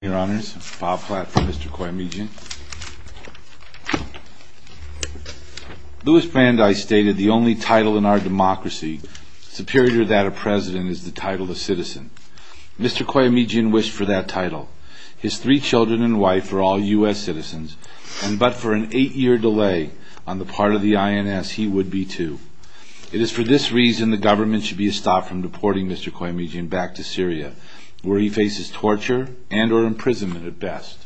Your Honors, Bob Platt for Mr. Koyomejian. Louis Brandeis stated the only title in our democracy superior to that of president is the title of citizen. Mr. Koyomejian wished for that title. His three children and wife are all U.S. citizens, and but for an eight-year delay on the part of the INS, he would be too. It is for this reason the government should be stopped from deporting Mr. Koyomejian back to Syria, where he faces torture and or imprisonment at best.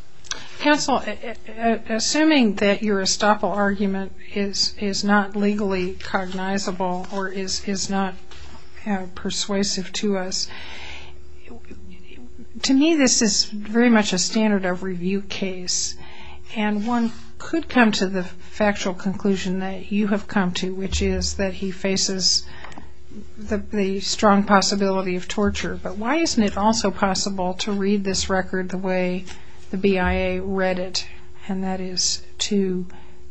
Counsel, assuming that your estoppel argument is not legally cognizable or is not persuasive to us, to me this is very much a standard of review case, and one could come to the factual conclusion that you have come to, which is that he faces the strong possibility of torture. But why isn't it also possible to read this record the way the BIA read it, and that is to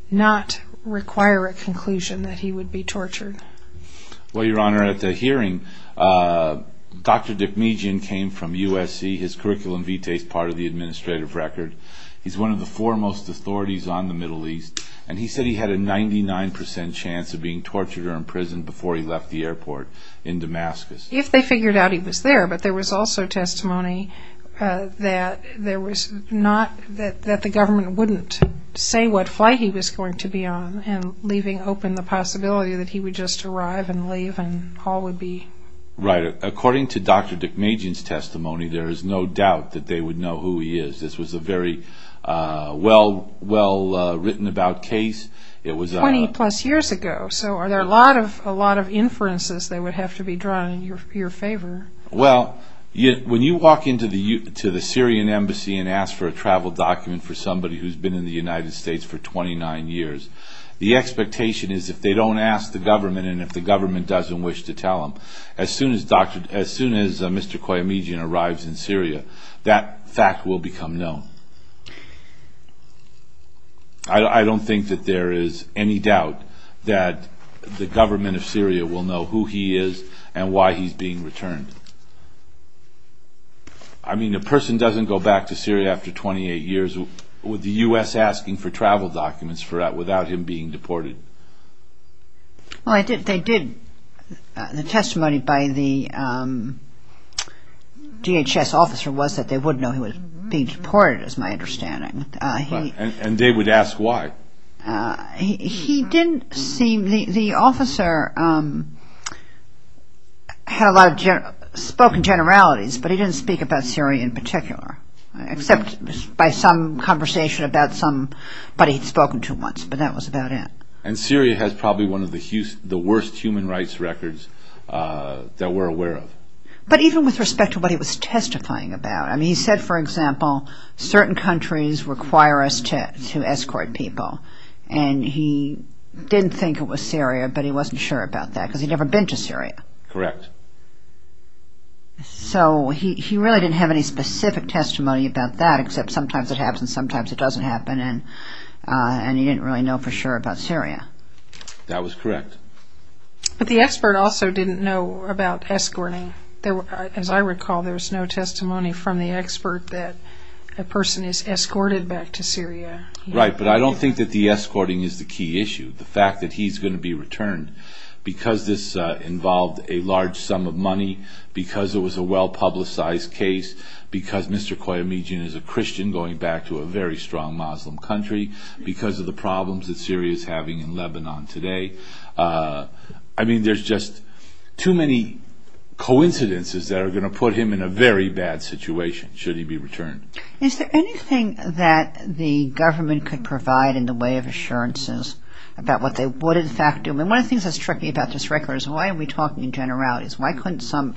not require a conclusion that he would be tortured? Well, Your Honor, at the hearing, Dr. Dikmejian came from USC. His curriculum vitae is part of the administrative record. He's one of the foremost authorities on the Middle East, and he said he had a 99 percent chance of being tortured or imprisoned before he left the airport in Damascus. If they figured out he was there, but there was also testimony that there was not, that the government wouldn't say what flight he was going to be on, and leaving open the possibility that he would just arrive and leave and all would be... Right. According to Dr. Dikmejian's testimony, there is no doubt that they would know who he is. This was a very well-written-about case. Twenty-plus years ago, so are there a lot of inferences that would have to be drawn in your favor? Well, when you walk into the Syrian embassy and ask for a travel document for somebody who's been in the United States for 29 years, the expectation is if they don't ask the government and if the government doesn't wish to tell them, as soon as Mr. Qayyamijian arrives in Syria, that fact will become known. I don't think that there is any doubt that the government of Syria will know who he is and why he's being returned. I mean, a person doesn't go back to Syria after 28 years with the U.S. asking for travel documents without him being deported. Well, they did. The testimony by the DHS officer was that they would know he was being deported, is my understanding. And they would ask why? He didn't seem... The officer had spoken generalities, but he didn't speak about Syria in particular, except by some conversation about somebody he'd spoken to once, but that was about it. And Syria has probably one of the worst human rights records that we're aware of. But even with respect to what he was testifying about, I mean, he said, for example, certain countries require us to escort people. And he didn't think it was Syria, but he wasn't sure about that, because he'd never been to Syria. Correct. So he really didn't have any specific testimony about that, except sometimes it happens, sometimes it doesn't happen, and he didn't really know for sure about Syria. That was correct. But the expert also didn't know about escorting. As I recall, there was no testimony from the expert that a person is escorted back to Syria. Right, but I don't think that the escorting is the key issue. The fact that he's going to be returned, because this involved a large sum of money, because it was a well-publicized case, because Mr. Koyamijian is a Christian going back to a very strong Muslim country, because of the problems that Syria is having in Lebanon today. I mean, there's just too many coincidences that are going to put him in a very bad situation should he be returned. Is there anything that the government could provide in the way of assurances about what they would in fact do? I mean, one of the things that's tricky about this record is why are we talking in generalities? Why couldn't some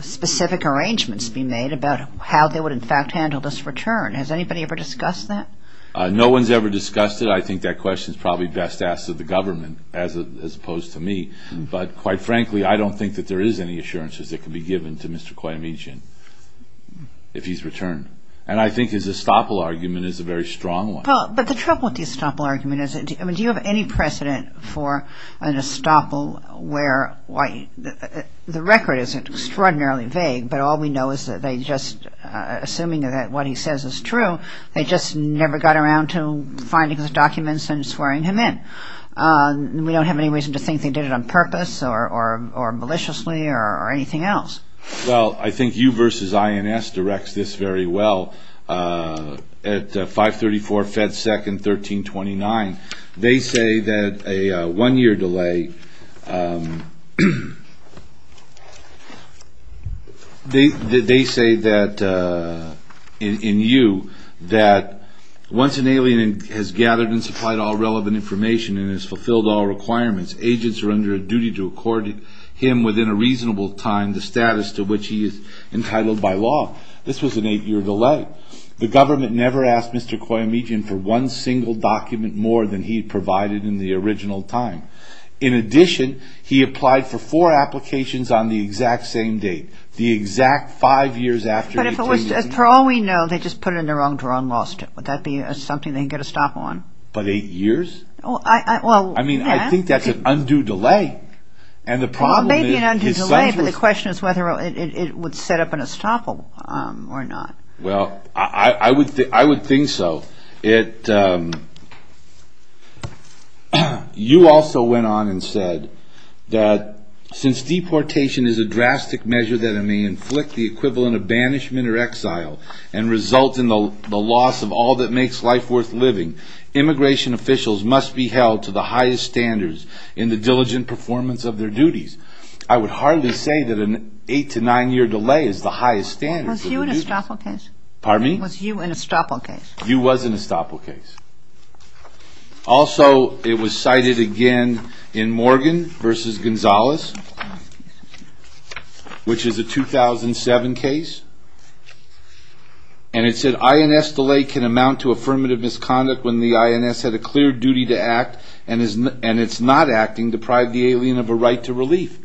specific arrangements be made about how they would in fact handle this return? Has anybody ever discussed that? No one's ever discussed it. I think that question's probably best asked of the government as opposed to me. But quite frankly, I don't think that there is any assurances that can be given to Mr. Koyamijian if he's returned. And I think his estoppel argument is a very strong one. But the trouble with the estoppel argument is do you have any precedent for an estoppel where the record isn't extraordinarily vague, but all we know is that they just, assuming that what he says is true, they just never got around to finding his documents and swearing him in. We don't have any reason to think they did it on purpose or maliciously or anything else. Well, I think you versus INS directs this very well. At 534 Fed Second 1329, they say that a one-year delay. They say that in you that once an alien has gathered and supplied all relevant information and has fulfilled all requirements, agents are under a duty to accord him within a reasonable time the status to which he is entitled by law. This was an eight-year delay. The government never asked Mr. Koyamijian for one single document more than he provided in the original time. In addition, he applied for four applications on the exact same date, the exact five years after he changed his mind. But if it was, for all we know, they just put it in the wrong drawer and lost it. Would that be something they can get a stop on? But eight years? I mean, I think that's an undue delay. Well, maybe an undue delay, but the question is whether it would set up an estoppel or not. Well, I would think so. You also went on and said that since deportation is a drastic measure that may inflict the equivalent of banishment or exile and result in the loss of all that makes life worth living, immigration officials must be held to the highest standards in the diligent performance of their duties. I would hardly say that an eight- to nine-year delay is the highest standard. Was you an estoppel case? Pardon me? Was you an estoppel case? You was an estoppel case. Also, it was cited again in Morgan v. Gonzales, which is a 2007 case, and it said INS delay can amount to affirmative misconduct when the INS had a clear duty to act and it's not acting deprived the alien of a right to relief.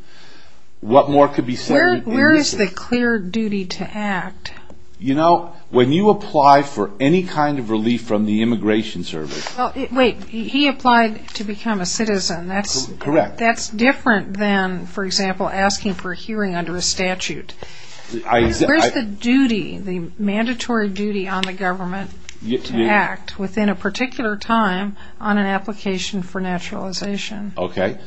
What more could be said? Where is the clear duty to act? You know, when you apply for any kind of relief from the Immigration Service... Wait, he applied to become a citizen. Correct. That's different than, for example, asking for a hearing under a statute. Where's the duty, the mandatory duty on the government to act within a particular time on an application for naturalization? Okay.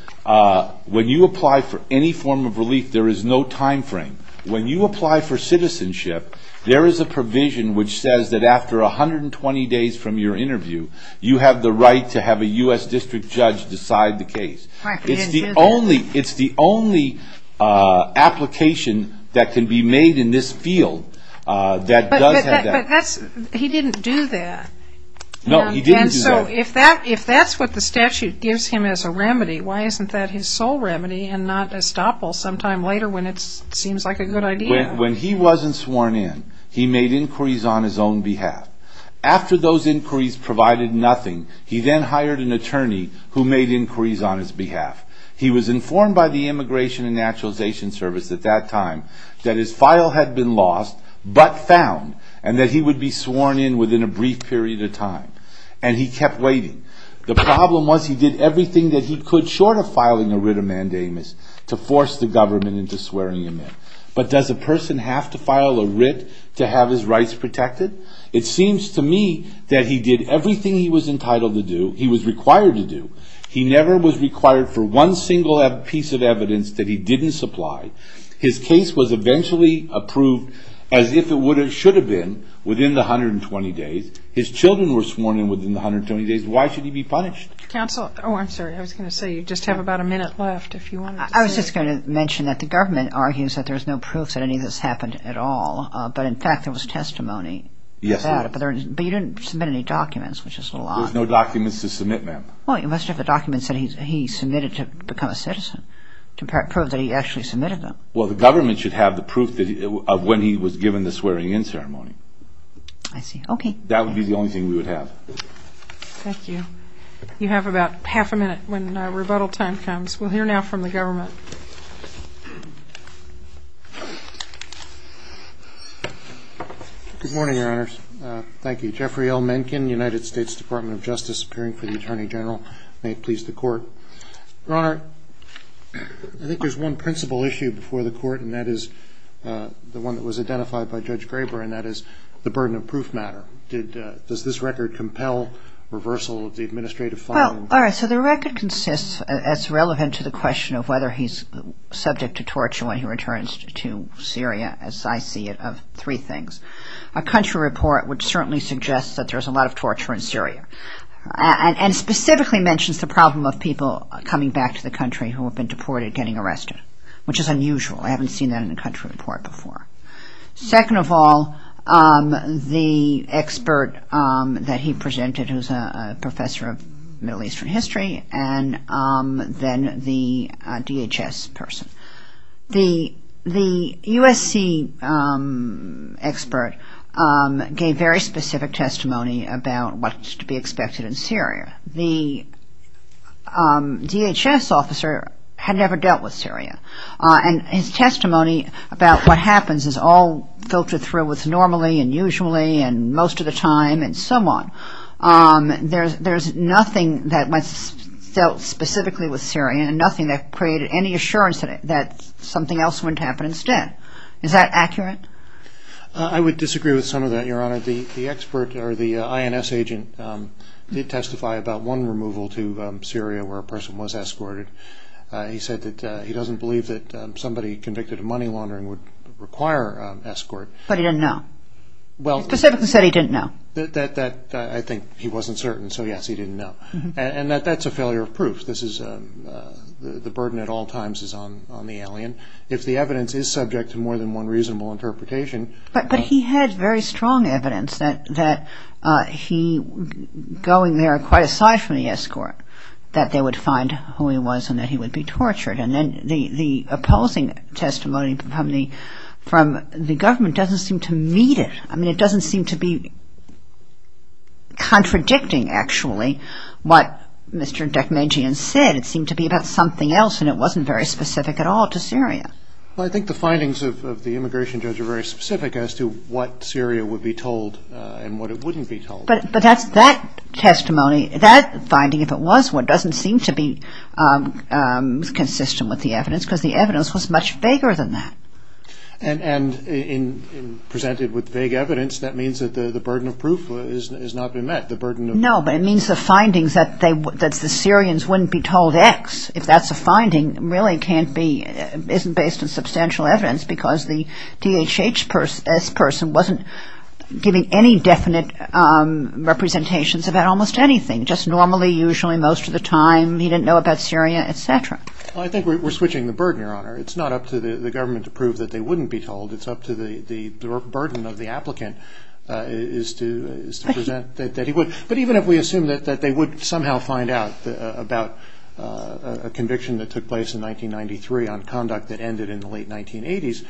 When you apply for any form of relief, there is no time frame. When you apply for citizenship, there is a provision which says that after 120 days from your interview, you have the right to have a U.S. district judge decide the case. It's the only application that can be made in this field that does have that. But he didn't do that. No, he didn't do that. And so if that's what the statute gives him as a remedy, why isn't that his sole remedy and not estoppel sometime later when it seems like a good idea? When he wasn't sworn in, he made inquiries on his own behalf. After those inquiries provided nothing, he then hired an attorney who made inquiries on his behalf. He was informed by the Immigration and Naturalization Service at that time that his file had been lost but found, and that he would be sworn in within a brief period of time. And he kept waiting. The problem was he did everything that he could short of filing a writ of mandamus to force the government into swearing him in. But does a person have to file a writ to have his rights protected? It seems to me that he did everything he was entitled to do, he was required to do. He never was required for one single piece of evidence that he didn't supply. His case was eventually approved as if it should have been within the 120 days. His children were sworn in within the 120 days. Why should he be punished? Counsel, oh, I'm sorry. I was going to say you just have about a minute left if you wanted to say. I was just going to mention that the government argues that there's no proof that any of this happened at all. But, in fact, there was testimony. Yes. But you didn't submit any documents, which is a lie. There's no documents to submit, ma'am. Well, you must have the documents that he submitted to become a citizen to prove that he actually submitted them. Well, the government should have the proof of when he was given the swearing in ceremony. I see. Okay. That would be the only thing we would have. Thank you. You have about half a minute when rebuttal time comes. We'll hear now from the government. Good morning, Your Honors. Thank you. Jeffrey L. Mencken, United States Department of Justice, appearing for the Attorney General. May it please the Court. Your Honor, I think there's one principal issue before the Court, and that is the one that was identified by Judge Graber, and that is the burden of proof matter. Does this record compel reversal of the administrative filing? All right. So the record consists, as relevant to the question of whether he's subject to torture when he returns to Syria, as I see it, of three things. A country report would certainly suggest that there's a lot of torture in Syria and specifically mentions the problem of people coming back to the country who have been deported getting arrested, which is unusual. I haven't seen that in a country report before. Second of all, the expert that he presented, who's a professor of Middle Eastern history, and then the DHS person. The USC expert gave very specific testimony about what's to be expected in Syria. The DHS officer had never dealt with Syria. And his testimony about what happens is all filtered through with normally and usually and most of the time and so on. There's nothing that was dealt specifically with Syria and nothing that created any assurance that something else wouldn't happen instead. Is that accurate? I would disagree with some of that, Your Honor. The expert, or the INS agent, did testify about one removal to Syria where a person was escorted. He said that he doesn't believe that somebody convicted of money laundering would require escort. But he didn't know. He specifically said he didn't know. I think he wasn't certain, so yes, he didn't know. And that's a failure of proof. The burden at all times is on the alien. If the evidence is subject to more than one reasonable interpretation. But he had very strong evidence that he, going there quite aside from the escort, that they would find who he was and that he would be tortured. And then the opposing testimony from the government doesn't seem to meet it. I mean, it doesn't seem to be contradicting, actually, what Mr. Dechmegian said. It seemed to be about something else, and it wasn't very specific at all to Syria. Well, I think the findings of the immigration judge are very specific as to what Syria would be told and what it wouldn't be told. But that testimony, that finding, if it was one, doesn't seem to be consistent with the evidence because the evidence was much vaguer than that. And presented with vague evidence, that means that the burden of proof has not been met. No, but it means the findings that the Syrians wouldn't be told X, if that's a finding, really can't be, isn't based on substantial evidence because the DHHS person wasn't giving any definite representations about almost anything, just normally, usually, most of the time, he didn't know about Syria, et cetera. Well, I think we're switching the burden, Your Honor. It's not up to the government to prove that they wouldn't be told. It's up to the burden of the applicant is to present that he would. But even if we assume that they would somehow find out about a conviction that took place in 1993 on conduct that ended in the late 1980s,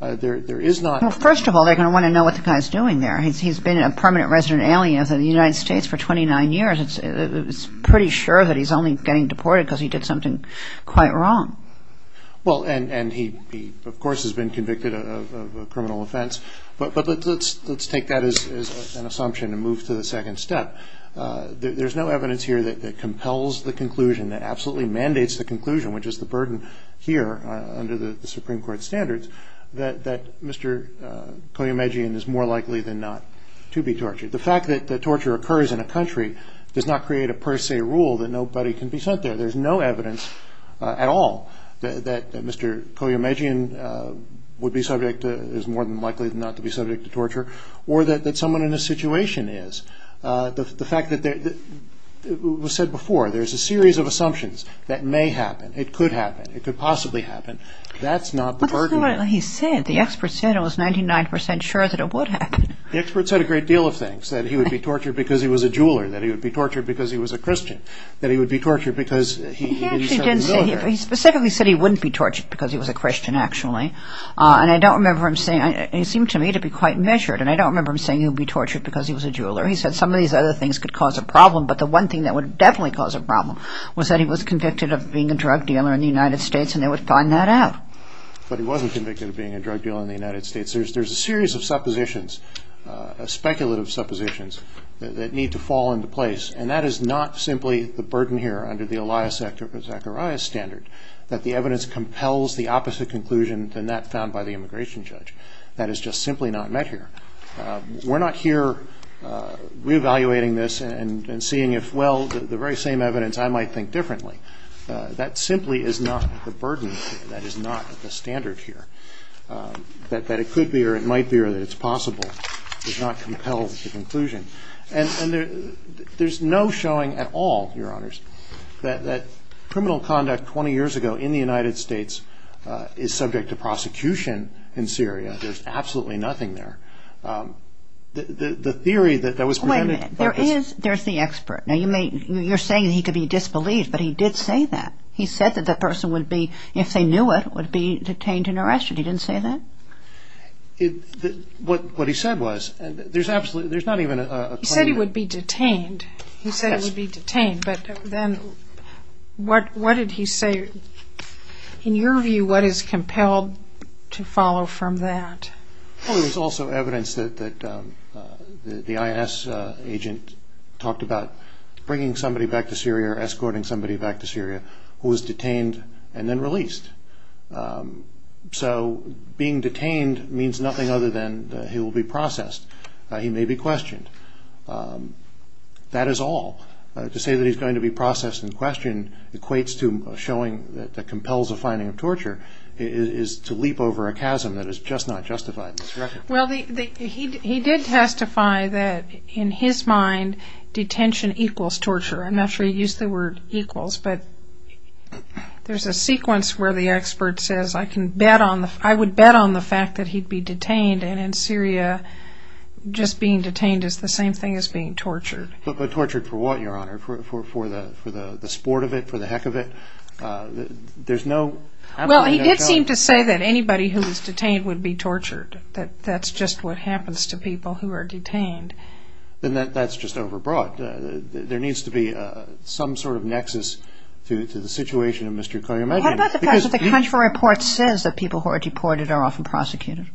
there is notó Well, first of all, they're going to want to know what the guy's doing there. He's been a permanent resident alien of the United States for 29 years. It's pretty sure that he's only getting deported because he did something quite wrong. Well, and he, of course, has been convicted of a criminal offense. But let's take that as an assumption and move to the second step. There's no evidence here that compels the conclusion, that absolutely mandates the conclusion, which is the burden here under the Supreme Court standards, that Mr. Koyemejian is more likely than not to be tortured. The fact that torture occurs in a country does not create a per se rule that nobody can be sent there. There's no evidence at all that Mr. Koyemejian would be subjectóis more than likely than not to be subject to tortureó or that someone in this situation is. The fact thatóit was said beforeóthere's a series of assumptions that may happen. It could happen. It could possibly happen. That's not the burden here. But that's not what he said. The expert said it was 99 percent sure that it would happen. The expert said a great deal of thingsóthat he would be tortured because he was a jeweler, that he would be tortured because he was a Christian, that he would be tortured because he didn't serve his order. He specifically said he wouldn't be tortured because he was a Christian, actually. And I don't remember him sayingóit seemed to me to be quite measuredó and I don't remember him saying he would be tortured because he was a jeweler. He said some of these other things could cause a problem, but the one thing that would definitely cause a problem was that he was convicted of being a drug dealer in the United States, and they would find that out. But he wasn't convicted of being a drug dealer in the United States. There's a series of suppositions, speculative suppositions, that need to fall into place. And that is not simply the burden here under the Elias Zacharias standard, that the evidence compels the opposite conclusion than that found by the immigration judge. That is just simply not met here. We're not here re-evaluating this and seeing if, well, the very same evidence I might think differently. That simply is not the burden here. That is not the standard here. That it could be or it might be or that it's possible does not compel the conclusion. And there's no showing at all, Your Honors, that criminal conduct 20 years ago in the United States is subject to prosecution in Syria. There's absolutely nothing there. The theory that was presented... Wait a minute. There's the expert. Now you're saying that he could be disbelieved, but he did say that. He said that the person would be, if they knew it, would be detained and arrested. He didn't say that? What he said was... He said he would be detained. He said he would be detained. But then what did he say? In your view, what is compelled to follow from that? Well, there's also evidence that the INS agent talked about bringing somebody back to Syria or escorting somebody back to Syria who was detained and then released. So being detained means nothing other than that he will be processed. He may be questioned. That is all. To say that he's going to be processed and questioned equates to showing that compels the finding of torture is to leap over a chasm that is just not justified in this record. Well, he did testify that in his mind detention equals torture. I'm not sure he used the word equals, but there's a sequence where the expert says I would bet on the fact that he'd be detained and in Syria just being detained is the same thing as being tortured. But tortured for what, Your Honor, for the sport of it, for the heck of it? There's no... Well, he did seem to say that anybody who was detained would be tortured, that that's just what happens to people who are detained. Then that's just overbroad. There needs to be some sort of nexus to the situation of Mr. Koyemegian. What about the fact that the country report says that people who are deported are often prosecuted?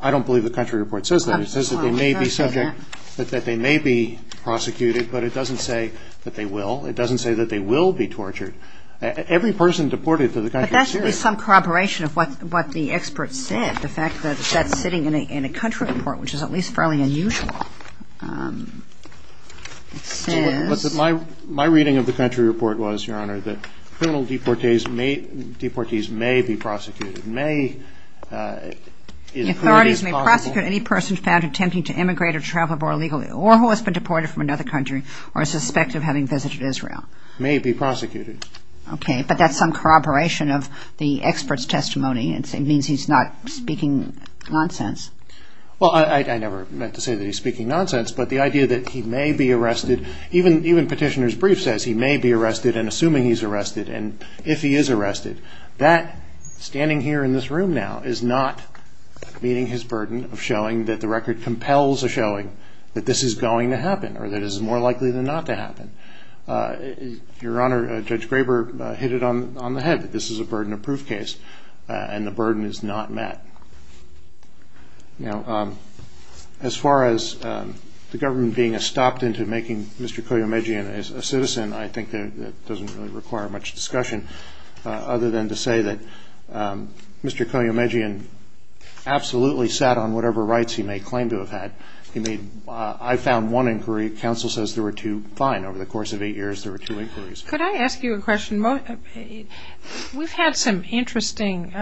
I don't believe the country report says that. It says that they may be subject, that they may be prosecuted, but it doesn't say that they will. It doesn't say that they will be tortured. Every person deported to the country of Syria... But that should be some corroboration of what the expert said, the fact that that's sitting in a country report, which is at least fairly unusual. It says... My reading of the country report was, Your Honor, that criminal deportees may be prosecuted, may... The authorities may prosecute any person found attempting to immigrate or travel abroad illegally or who has been deported from another country or is suspected of having visited Israel. May be prosecuted. Okay, but that's some corroboration of the expert's testimony. It means he's not speaking nonsense. Well, I never meant to say that he's speaking nonsense, but the idea that he may be arrested... Even Petitioner's Brief says he may be arrested and assuming he's arrested and if he is arrested. That, standing here in this room now, is not meeting his burden of showing that the record compels a showing that this is going to happen or that this is more likely than not to happen. Your Honor, Judge Graber hit it on the head that this is a burden of proof case. And the burden is not met. Now, as far as the government being stopped into making Mr. Koyemejian a citizen, I think that doesn't really require much discussion, other than to say that Mr. Koyemejian absolutely sat on whatever rights he may claim to have had. I found one inquiry. Counsel says there were two. Fine. Over the course of eight years, there were two inquiries. Could I ask you a question? We've had some interesting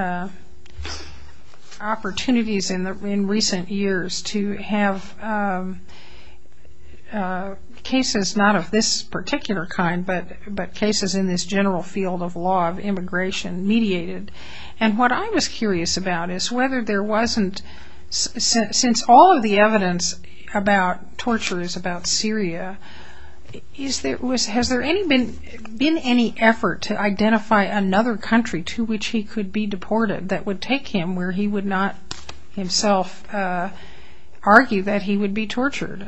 opportunities in recent years to have cases not of this particular kind, but cases in this general field of law of immigration mediated. And what I was curious about is whether there wasn't, since all of the evidence about torture is about Syria, has there been any effort to identify another country to which he could be deported that would take him where he would not himself argue that he would be tortured?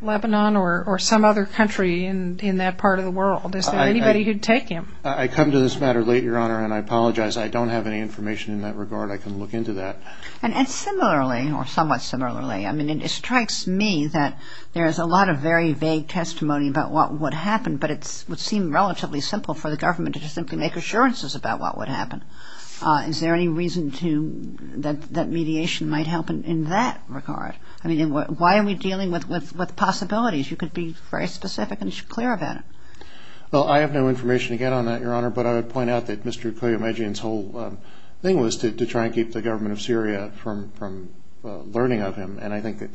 Lebanon or some other country in that part of the world? Is there anybody who would take him? I come to this matter late, Your Honor, and I apologize. I don't have any information in that regard. I can look into that. And similarly, or somewhat similarly, I mean, it strikes me that there is a lot of very vague testimony about what would happen, but it would seem relatively simple for the government to just simply make assurances about what would happen. Is there any reason that mediation might help in that regard? I mean, why are we dealing with possibilities? You could be very specific and clear about it. Well, I have no information to get on that, Your Honor, but I would point out that Mr. Koyemedjian's whole thing was to try and keep the government of Syria from learning of him, and I think that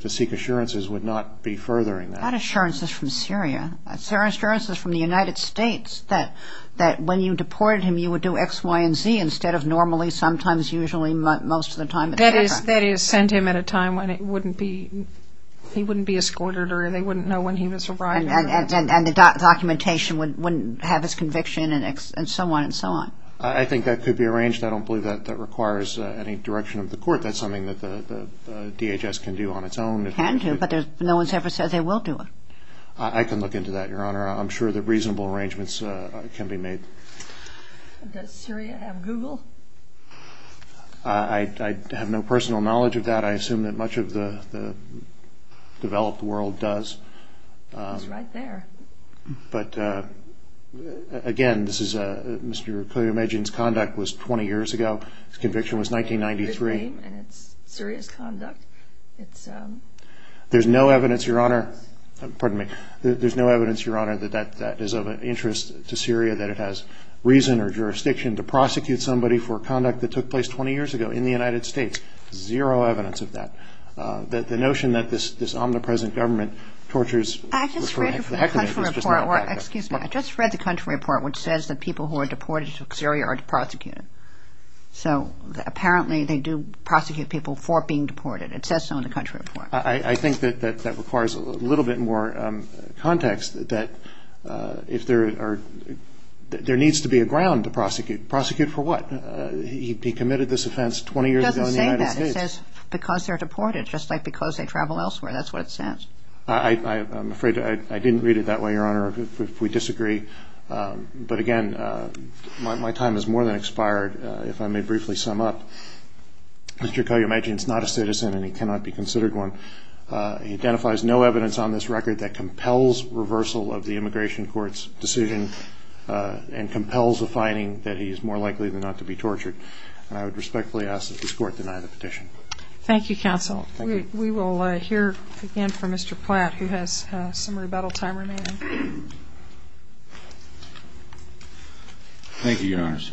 to seek assurances would not be furthering that. Not assurances from Syria. Assurances from the United States that when you deported him, you would do X, Y, and Z instead of normally, sometimes, usually, most of the time, et cetera. That is, send him at a time when he wouldn't be escorted or they wouldn't know when he was arriving. And the documentation wouldn't have his conviction and so on and so on. I think that could be arranged. I don't believe that requires any direction of the court. That's something that the DHS can do on its own. It can do, but no one has ever said they will do it. I can look into that, Your Honor. I'm sure that reasonable arrangements can be made. Does Syria have Google? I have no personal knowledge of that. I assume that much of the developed world does. It's right there. But, again, this is Mr. Qayyum Ejin's conduct was 20 years ago. His conviction was 1993. And it's serious conduct. There's no evidence, Your Honor. Pardon me. There's no evidence, Your Honor, that that is of interest to Syria, that it has reason or jurisdiction to prosecute somebody for conduct that took place 20 years ago in the United States. Zero evidence of that. The notion that this omnipresent government tortures for the heck of it is just not correct. Excuse me. I just read the country report which says that people who are deported to Syria are prosecuted. So apparently they do prosecute people for being deported. It says so in the country report. I think that that requires a little bit more context that if there are ñ there needs to be a ground to prosecute. Prosecute for what? He committed this offense 20 years ago in the United States. It doesn't say that. It says because they're deported, just like because they travel elsewhere. That's what it says. I'm afraid I didn't read it that way, Your Honor, if we disagree. But, again, my time has more than expired. If I may briefly sum up, Mr. Qayyum Ejin is not a citizen, and he cannot be considered one. He identifies no evidence on this record that compels reversal of the immigration court's decision and compels a finding that he is more likely than not to be tortured. And I would respectfully ask that this Court deny the petition. Thank you, counsel. We will hear again from Mr. Platt, who has some rebuttal time remaining. Thank you, Your Honors.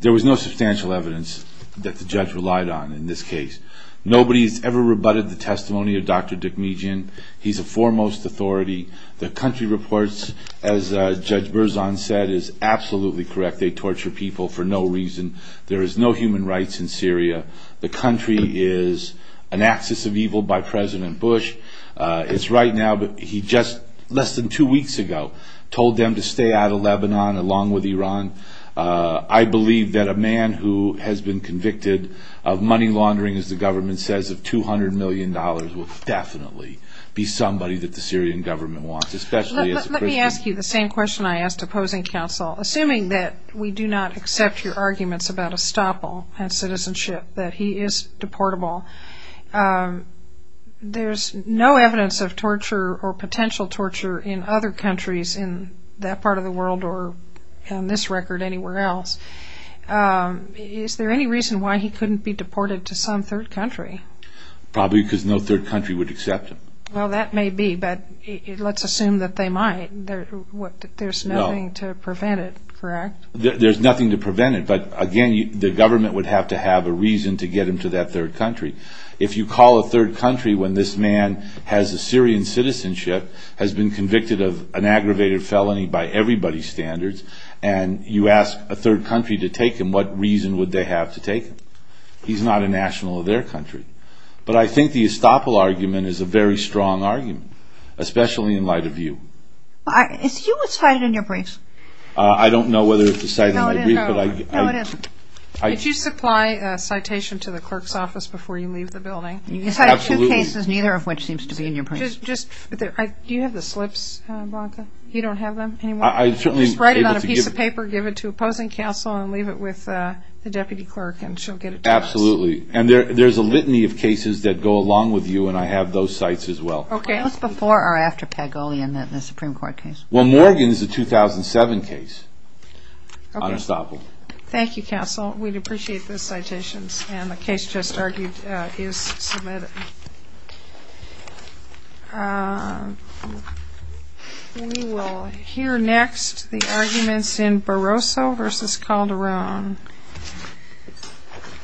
There was no substantial evidence that the judge relied on in this case. Nobody has ever rebutted the testimony of Dr. Dick Median. He's a foremost authority. The country reports, as Judge Berzon said, is absolutely correct. They torture people for no reason. There is no human rights in Syria. The country is an axis of evil by President Bush. It's right now, but he just, less than two weeks ago, told them to stay out of Lebanon along with Iran. I believe that a man who has been convicted of money laundering, as the government says, of $200 million, will definitely be somebody that the Syrian government wants, especially as a Christian. Let me ask you the same question I asked opposing counsel. Assuming that we do not accept your arguments about estoppel and citizenship, that he is deportable, there's no evidence of torture or potential torture in other countries in that part of the world or, on this record, anywhere else. Is there any reason why he couldn't be deported to some third country? Probably because no third country would accept him. Well, that may be, but let's assume that they might. There's nothing to prevent it, correct? There's nothing to prevent it, but, again, the government would have to have a reason to get him to that third country. If you call a third country when this man has a Syrian citizenship, has been convicted of an aggravated felony by everybody's standards, and you ask a third country to take him, what reason would they have to take him? He's not a national of their country. But I think the estoppel argument is a very strong argument, especially in light of you. Is he cited in your briefs? I don't know whether it's cited in my brief, but I... No, it is. Did you supply a citation to the clerk's office before you leave the building? Absolutely. You cited two cases, neither of which seems to be in your briefs. Do you have the slips, Branka? You don't have them anymore? I certainly am able to give... Absolutely. And there's a litany of cases that go along with you, and I have those sites as well. Okay. Was it before or after Pagolian, the Supreme Court case? Well, Morgan is a 2007 case on estoppel. Okay. Thank you, counsel. We'd appreciate those citations. And the case just argued is submitted. We will hear next the arguments in Barroso v. Calderon.